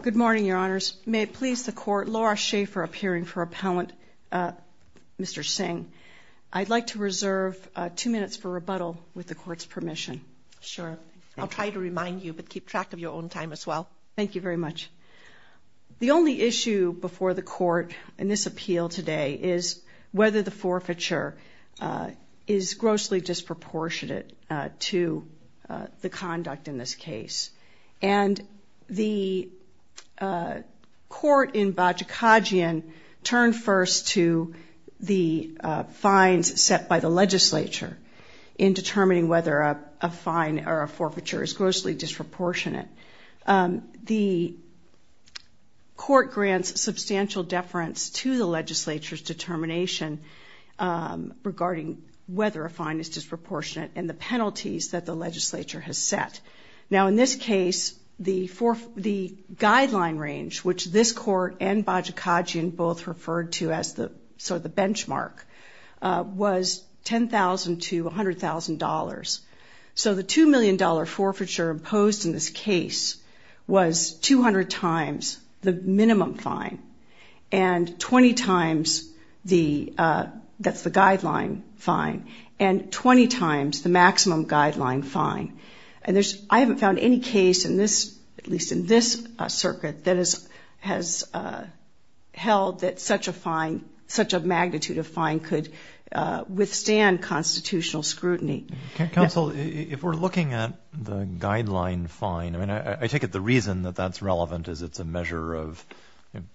Good morning, Your Honors. May it please the Court, Laura Schaffer appearing for Appellant Mr. Singh. I'd like to reserve two minutes for rebuttal with the Court's permission. Sure. I'll try to remind you, but keep track of your own time as well. Thank you very much. The only issue before the Court in this appeal today is whether the forfeiture is grossly disproportionate to the conduct in this case. And the Court in Bajikadzian turned first to the fines set by the Legislature in determining whether a fine or a forfeiture is grossly disproportionate. The Court grants substantial deference to the Legislature's determination regarding whether a fine is disproportionate and the penalties that the Legislature has set. Now, in this case, the guideline range, which this Court and Bajikadzian both referred to as sort of the benchmark, was $10,000 to $100,000. So the $2 million forfeiture imposed in this case was 200 times the minimum fine and 20 times the, that's the guideline fine, and 20 times the maximum guideline fine. And there's, I haven't found any case in this, at least in this circuit, that has held that such a fine, such a magnitude of fine could withstand constitutional scrutiny. Counsel, if we're looking at the guideline fine, I mean, I take it the reason that that's relevant is it's a measure of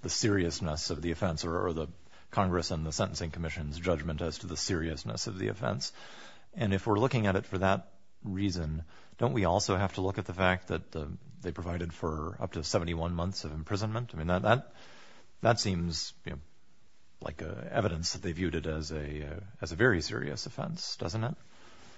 the seriousness of the offense or the Congress and the Sentencing Commission's judgment as to the seriousness of the offense. And if we're looking at it for that reason, don't we also have to look at the fact that they provided for up to 71 months of imprisonment? I mean, that seems like evidence that they viewed it as a very serious offense, doesn't it?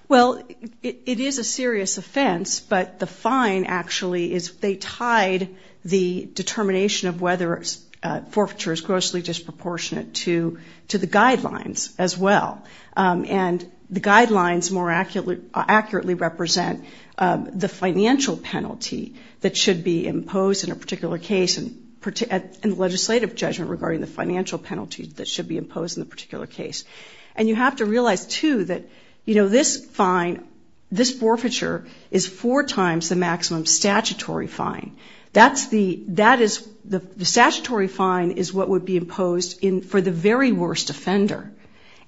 Well, it is a serious offense, but the fine actually is they tied the determination of whether a forfeiture is grossly disproportionate to the guidelines as well. And the guidelines more accurately represent the financial penalty that should be imposed in a particular case and legislative judgment regarding the financial penalty that should be imposed in the particular case. And you have to realize, too, that, you know, this fine, this forfeiture is four times the maximum statutory fine. That's the, that is, the statutory fine is what would be imposed in, for the very worst offender.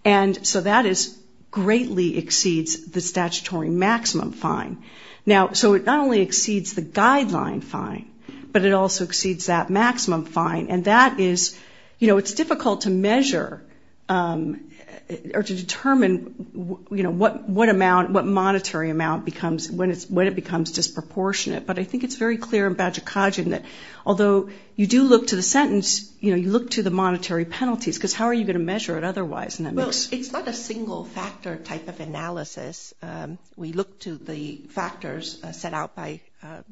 And so that is, greatly exceeds the statutory maximum fine. Now, so it not only exceeds the guideline fine, but it also exceeds that maximum fine. And that is, you know, it's difficult to measure or to determine, you know, what amount, what monetary amount becomes when it becomes disproportionate. But I think it's very clear in Bajikadzian that although you do look to the sentence, you know, you look to the monetary penalties, because how are you going to measure it otherwise? Well, it's not a single factor type of analysis. We look to the factors set out by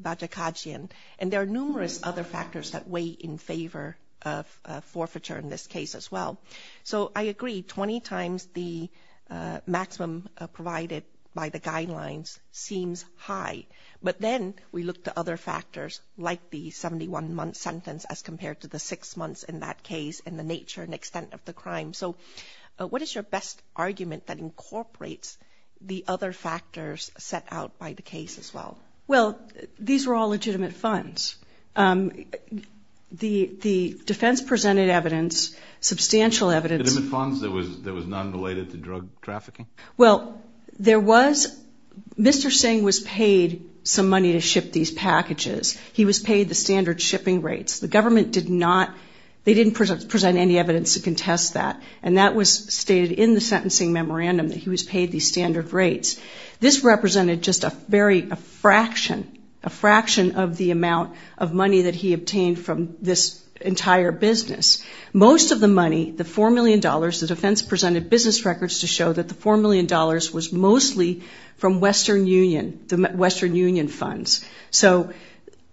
Bajikadzian. And there are numerous other factors that weigh in favor of forfeiture in this case as well. So I agree, 20 times the maximum provided by the guidelines seems high. But then we look to other factors like the 71-month sentence as compared to the six months in that case and the nature and extent of the crime. So what is your best argument that incorporates the other factors set out by the case as well? Well, these were all legitimate funds. The defense presented evidence, substantial evidence. Legitimate funds that was non-related to drug trafficking? Well, there was, Mr. Singh was paid some money to ship these packages. He was paid the standard shipping rates. The government did not, they didn't present any evidence to contest that. And that was stated in the sentencing memorandum that he was paid these standard rates. This represented just a very, a fraction, a fraction of the amount of money that he obtained from this entire business. Most of the money, the $4 million, the defense presented business records to show that the $4 million was mostly from Western Union, the Western Union funds. So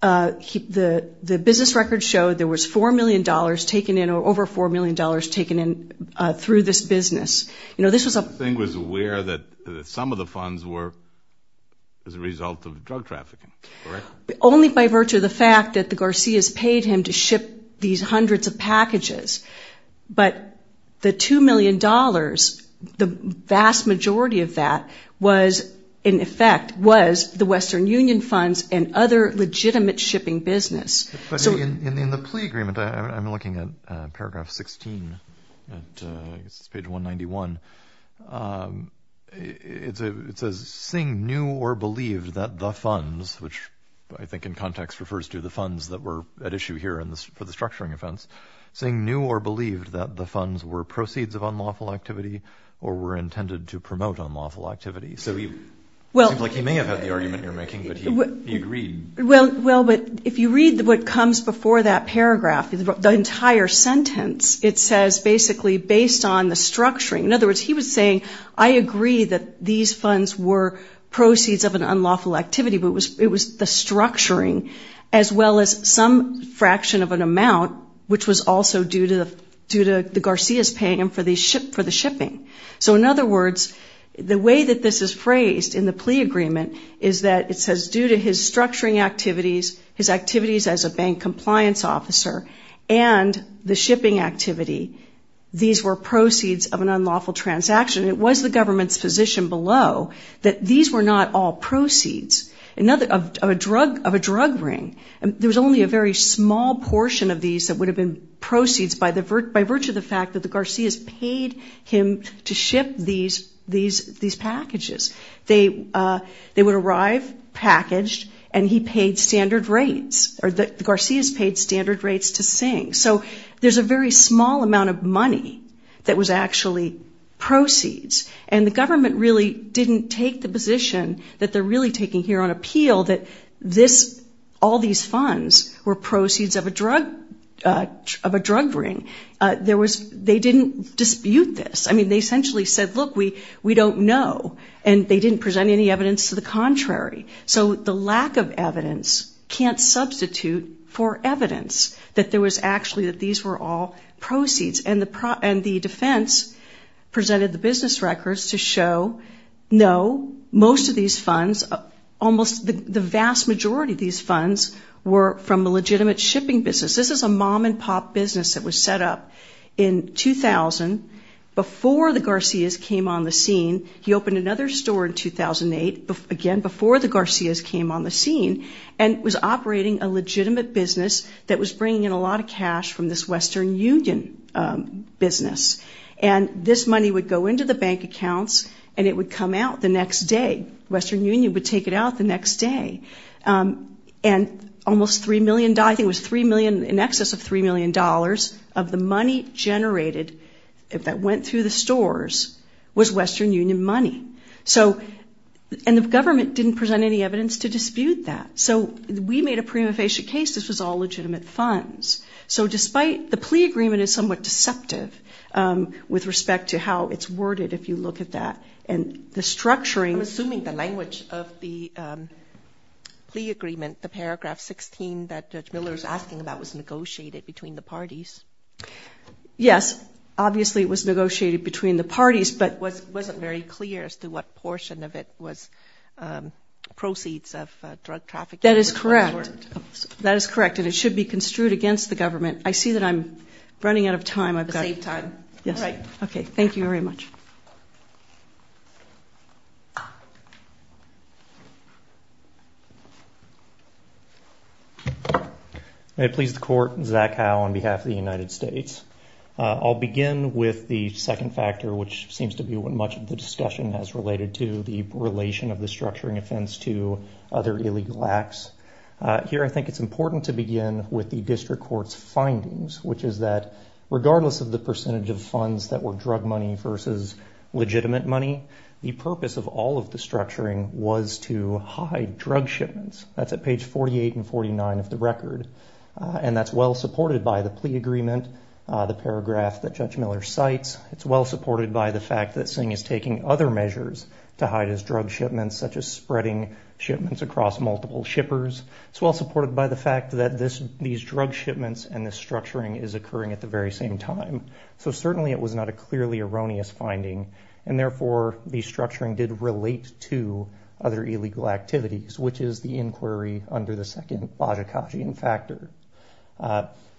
the business records showed there was $4 million taken in or over $4 million taken in through this business. You know, this was a... Mr. Singh was aware that some of the funds were as a result of drug trafficking, correct? Only by virtue of the fact that the Garcias paid him to ship these hundreds of packages. But the $2 million, the vast majority of that was, in effect, was the Western Union funds and other legitimate shipping business. In the plea agreement, I'm looking at paragraph 16, page 191, it says, Singh knew or believed that the funds, which I think in context refers to the funds that were at issue here for the structuring offense, Singh knew or believed that the funds were proceeds of unlawful activity or were intended to promote unlawful activity. So it seems like he may have had the argument you're making, but he agreed. Well, but if you read what comes before that paragraph, the entire sentence, it says basically based on the structuring. In other words, he was saying, I agree that these funds were proceeds of an unlawful activity, but it was the structuring as well as some fraction of an amount, which was also due to the Garcias paying him for the shipping. So in other words, the way that this is phrased in the plea agreement is that it says due to his structuring activities, his activities as a bank compliance officer, and the shipping activity, these were proceeds of an unlawful transaction. It was the government's position below that these were not all proceeds of a drug ring. There was only a very small portion of these that would have been proceeds by virtue of the fact that the Garcias paid him to ship these packages. They would arrive packaged, and he paid standard rates, or the Garcias paid standard rates to Singh. So there's a very small amount of money that was actually proceeds, and the government really didn't take the position that they're really taking here on appeal that all these funds were proceeds of a drug ring. They didn't dispute this. I mean, they essentially said, look, we don't know, and they didn't present any evidence to the contrary. So the lack of evidence can't substitute for evidence that there was actually that these were all proceeds, and the defense presented the business records to show, no, most of these funds, almost the vast majority of these funds were from a legitimate shipping business. This is a mom-and-pop business that was set up in 2000 before the Garcias came on the scene. He opened another store in 2008, again, before the Garcias came on the scene, and was operating a legitimate business that was bringing in a lot of cash from this Western Union business. And this money would go into the bank accounts, and it would come out the next day. Western Union would take it out the next day. And almost $3 million, I think it was $3 million, in excess of $3 million of the money generated that went through the stores was Western Union money. And the government didn't present any evidence to dispute that. So we made a prima facie case this was all legitimate funds. So despite the plea agreement is somewhat deceptive with respect to how it's worded, if you look at that, and the structuring. I'm assuming the language of the plea agreement, the paragraph 16 that Judge Miller is asking about, was negotiated between the parties. Yes, obviously it was negotiated between the parties. But it wasn't very clear as to what portion of it was proceeds of drug trafficking. That is correct. That is correct, and it should be construed against the government. I see that I'm running out of time. Save time. Yes. All right. Okay, thank you very much. May it please the court, Zach Howe on behalf of the United States. I'll begin with the second factor, which seems to be what much of the discussion has related to, the relation of the structuring offense to other illegal acts. Here I think it's important to begin with the district court's findings, which is that regardless of the percentage of funds that were drug money versus legitimate money, the purpose of all of the structuring was to hide drug shipments. That's at page 48 and 49 of the record. And that's well supported by the plea agreement, the paragraph that Judge Miller cites. It's well supported by the fact that Singh is taking other measures to hide his drug shipments, such as spreading shipments across multiple shippers. It's well supported by the fact that these drug shipments and this structuring is occurring at the very same time. So certainly it was not a clearly erroneous finding. And therefore, the structuring did relate to other illegal activities, which is the inquiry under the second Bajikashian factor.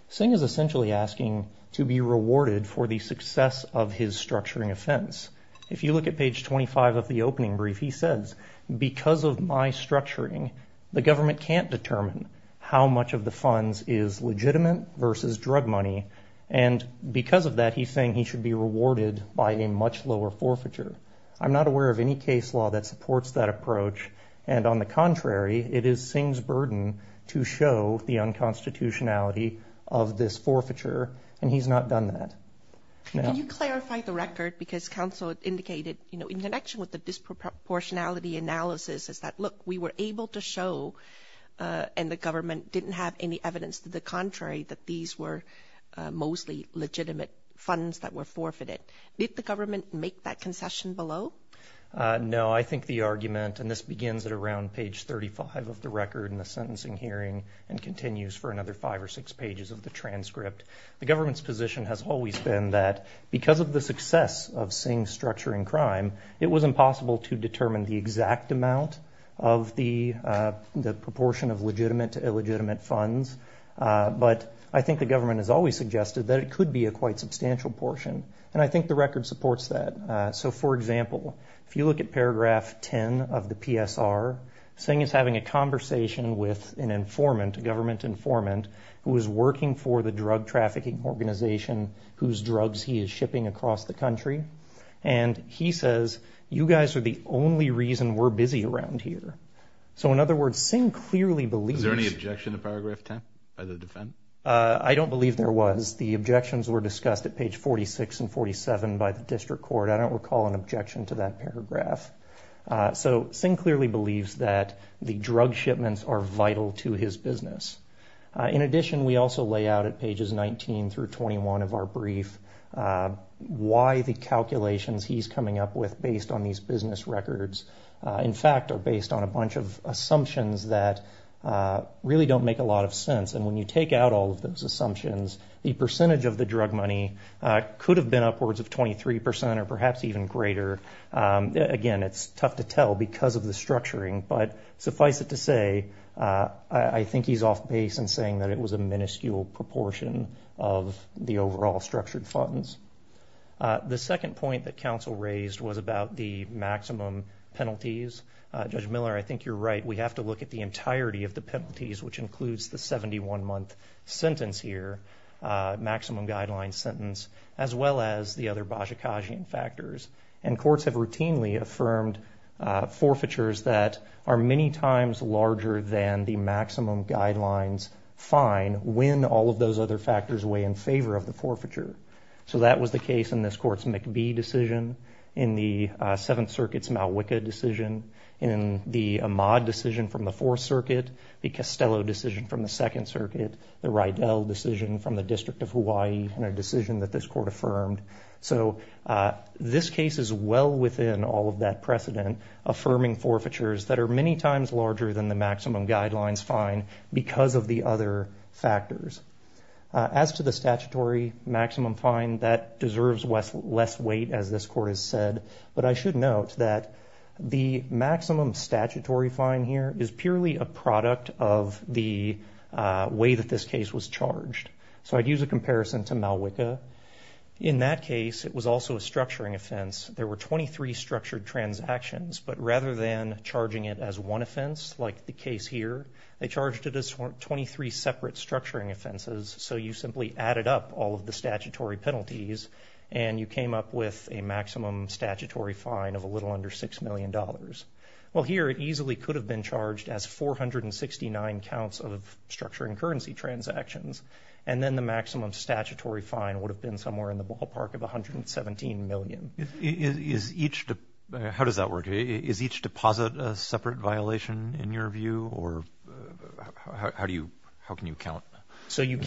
Singh is essentially asking to be rewarded for the success of his structuring offense. If you look at page 25 of the opening brief, he says, because of my structuring, the government can't determine how much of the funds is legitimate versus drug money. And because of that, he's saying he should be rewarded by a much lower forfeiture. I'm not aware of any case law that supports that approach. And on the contrary, it is Singh's burden to show the unconstitutionality of this forfeiture. And he's not done that. Can you clarify the record? Because counsel indicated, you know, in connection with the disproportionality analysis is that, look, we were able to show. And the government didn't have any evidence to the contrary, that these were mostly legitimate funds that were forfeited. Did the government make that concession below? No, I think the argument and this begins at around page 35 of the record in the sentencing hearing and continues for another five or six pages of the transcript. The government's position has always been that because of the success of Singh's structuring crime, it was impossible to determine the exact amount of the proportion of legitimate to illegitimate funds. But I think the government has always suggested that it could be a quite substantial portion. And I think the record supports that. So, for example, if you look at paragraph 10 of the PSR, Singh is having a conversation with an informant, a government informant who is working for the drug trafficking organization whose drugs he is shipping across the country. And he says, you guys are the only reason we're busy around here. So, in other words, Singh clearly believes. Is there any objection to paragraph 10 by the defense? I don't believe there was. The objections were discussed at page 46 and 47 by the district court. I don't recall an objection to that paragraph. So Singh clearly believes that the drug shipments are vital to his business. In addition, we also lay out at pages 19 through 21 of our brief why the calculations he's coming up with based on these business records, in fact, are based on a bunch of assumptions that really don't make a lot of sense. And when you take out all of those assumptions, the percentage of the drug money could have been upwards of 23 percent or perhaps even greater. Again, it's tough to tell because of the structuring. But suffice it to say, I think he's off base in saying that it was a minuscule proportion of the overall structured funds. The second point that counsel raised was about the maximum penalties. Judge Miller, I think you're right. We have to look at the entirety of the penalties, which includes the 71-month sentence here, maximum guidelines sentence, as well as the other Bozsikagian factors. And courts have routinely affirmed forfeitures that are many times larger than the maximum guidelines fine when all of those other factors weigh in favor of the forfeiture. So that was the case in this court's McBee decision, in the Seventh Circuit's Malwicka decision, in the Ahmaud decision from the Fourth Circuit, the Costello decision from the Second Circuit, the Rydell decision from the District of Hawaii, and a decision that this court affirmed. So this case is well within all of that precedent, affirming forfeitures that are many times larger than the maximum guidelines fine because of the other factors. As to the statutory maximum fine, that deserves less weight, as this court has said. But I should note that the maximum statutory fine here is purely a product of the way that this case was charged. So I'd use a comparison to Malwicka. In that case, it was also a structuring offense. There were 23 structured transactions. But rather than charging it as one offense, like the case here, they charged it as 23 separate structuring offenses. So you simply added up all of the statutory penalties, and you came up with a maximum statutory fine of a little under $6 million. Well, here it easily could have been charged as 469 counts of structuring currency transactions. And then the maximum statutory fine would have been somewhere in the ballpark of $117 million. How does that work? Is each deposit a separate violation, in your view? Or how can you count? So you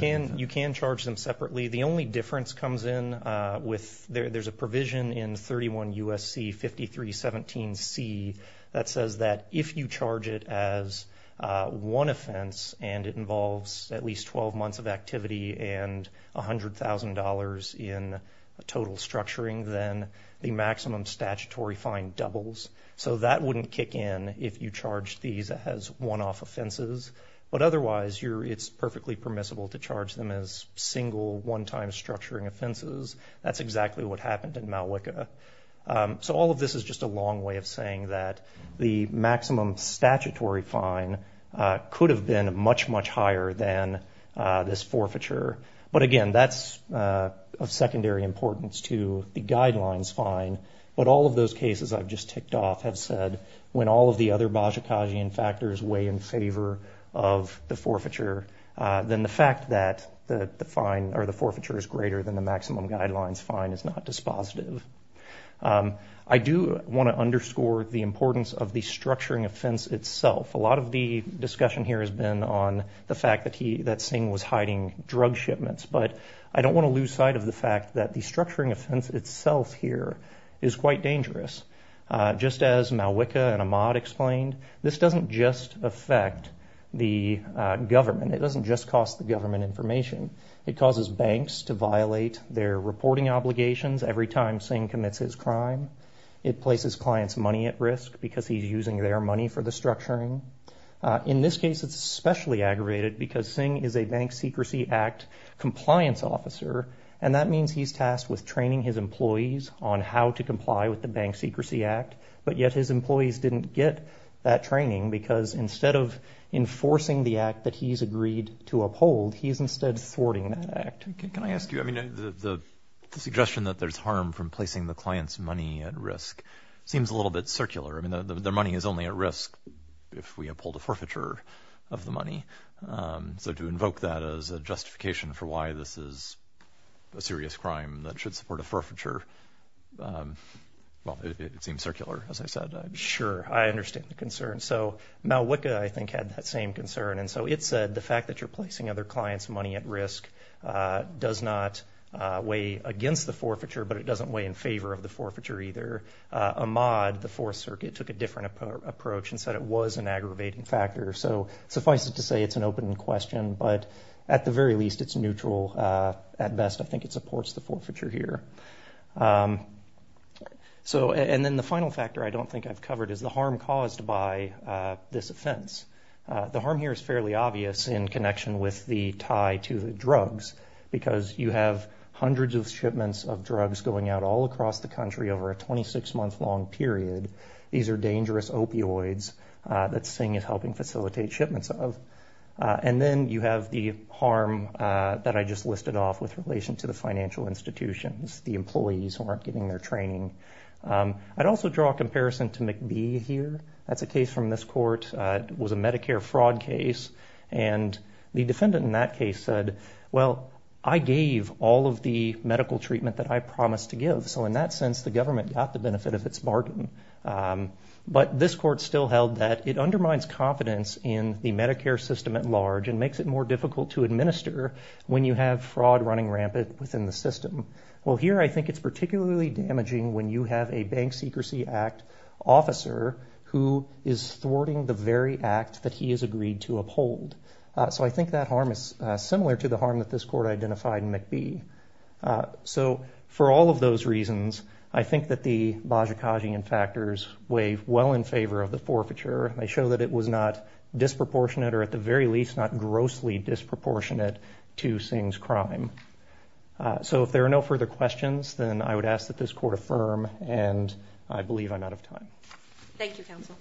can charge them separately. The only difference comes in with there's a provision in 31 U.S.C. 5317C that says that if you charge it as one offense and it involves at least 12 months of activity and $100,000 in total structuring, then the maximum statutory fine doubles. So that wouldn't kick in if you charged these as one-off offenses. But otherwise, it's perfectly permissible to charge them as single, one-time structuring offenses. That's exactly what happened in Malwica. So all of this is just a long way of saying that the maximum statutory fine could have been much, much higher than this forfeiture. But again, that's of secondary importance to the guidelines fine. But all of those cases I've just ticked off have said when all of the other Bajikasian factors weigh in favor of the forfeiture, then the fact that the fine or the forfeiture is greater than the maximum guidelines fine is not dispositive. I do want to underscore the importance of the structuring offense itself. A lot of the discussion here has been on the fact that Singh was hiding drug shipments. But I don't want to lose sight of the fact that the structuring offense itself here is quite dangerous. Just as Malwica and Ahmad explained, this doesn't just affect the government. It doesn't just cost the government information. It causes banks to violate their reporting obligations every time Singh commits his crime. It places clients' money at risk because he's using their money for the structuring. In this case, it's especially aggravated because Singh is a Bank Secrecy Act compliance officer, and that means he's tasked with training his employees on how to comply with the Bank Secrecy Act. But yet his employees didn't get that training because instead of enforcing the act that he's agreed to uphold, he's instead thwarting that act. Can I ask you, I mean, the suggestion that there's harm from placing the client's money at risk seems a little bit circular. I mean, their money is only at risk if we uphold a forfeiture of the money. So to invoke that as a justification for why this is a serious crime that should support a forfeiture, well, it seems circular, as I said. Sure, I understand the concern. So Malwica, I think, had that same concern. And so it said the fact that you're placing other clients' money at risk does not weigh against the forfeiture, but it doesn't weigh in favor of the forfeiture either. Ahmad, the Fourth Circuit, took a different approach and said it was an aggravating factor. So suffice it to say it's an open question, but at the very least it's neutral. At best, I think it supports the forfeiture here. And then the final factor I don't think I've covered is the harm caused by this offense. The harm here is fairly obvious in connection with the tie to drugs because you have hundreds of shipments of drugs going out all across the country over a 26-month-long period. These are dangerous opioids that Singh is helping facilitate shipments of. And then you have the harm that I just listed off with relation to the financial institutions, the employees who aren't getting their training. I'd also draw a comparison to McBee here. That's a case from this court. It was a Medicare fraud case. And the defendant in that case said, well, I gave all of the medical treatment that I promised to give, so in that sense the government got the benefit of its bargain. But this court still held that it undermines confidence in the Medicare system at large and makes it more difficult to administer when you have fraud running rampant within the system. Well, here I think it's particularly damaging when you have a Bank Secrecy Act officer who is thwarting the very act that he has agreed to uphold. So I think that harm is similar to the harm that this court identified in McBee. So for all of those reasons, I think that the Bajikashian factors weigh well in favor of the forfeiture. They show that it was not disproportionate or at the very least not grossly disproportionate to Singh's crime. So if there are no further questions, then I would ask that this court affirm, and I believe I'm out of time. Thank you, counsel.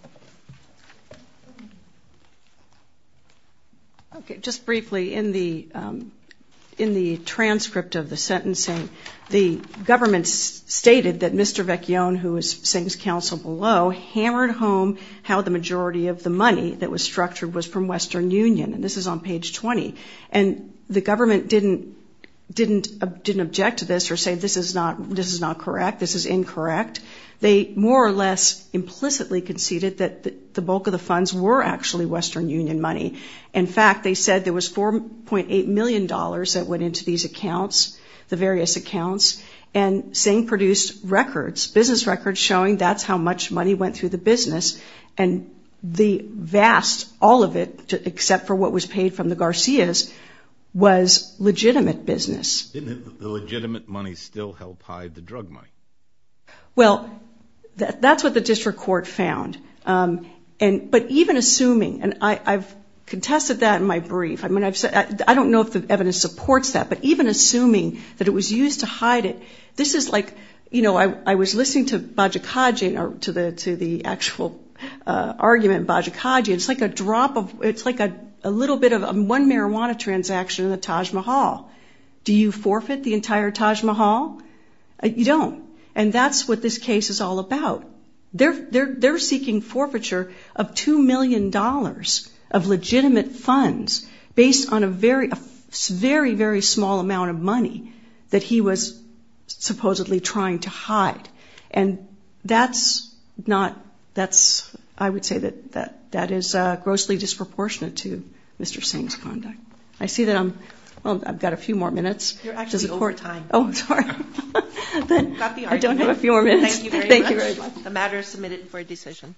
Just briefly, in the transcript of the sentencing, the government stated that Mr. Vecchione, who is Singh's counsel below, hammered home how the majority of the money that was structured was from Western Union. And this is on page 20. And the government didn't object to this or say this is not correct, this is incorrect. They more or less implicitly conceded that the bulk of the funds were actually Western Union money. In fact, they said there was $4.8 million that went into these accounts, the various accounts, and Singh produced records, business records, showing that's how much money went through the business. And the vast, all of it, except for what was paid from the Garcias, was legitimate business. Didn't the legitimate money still help hide the drug money? Well, that's what the district court found. But even assuming, and I've contested that in my brief, I don't know if the evidence supports that, but even assuming that it was used to hide it, this is like, you know, I was listening to Bajaj Khaji, to the actual argument in Bajaj Khaji, and it's like a drop of, it's like a little bit of one marijuana transaction in the Taj Mahal. Do you forfeit the entire Taj Mahal? You don't. And that's what this case is all about. They're seeking forfeiture of $2 million of legitimate funds based on a very, very small amount of money that he was supposedly trying to hide. And that's not, that's, I would say that that is grossly disproportionate to Mr. Singh's conduct. I see that I'm, well, I've got a few more minutes. You're actually over time. Oh, sorry. I don't have a few more minutes. Thank you very much. The matter is submitted for a decision.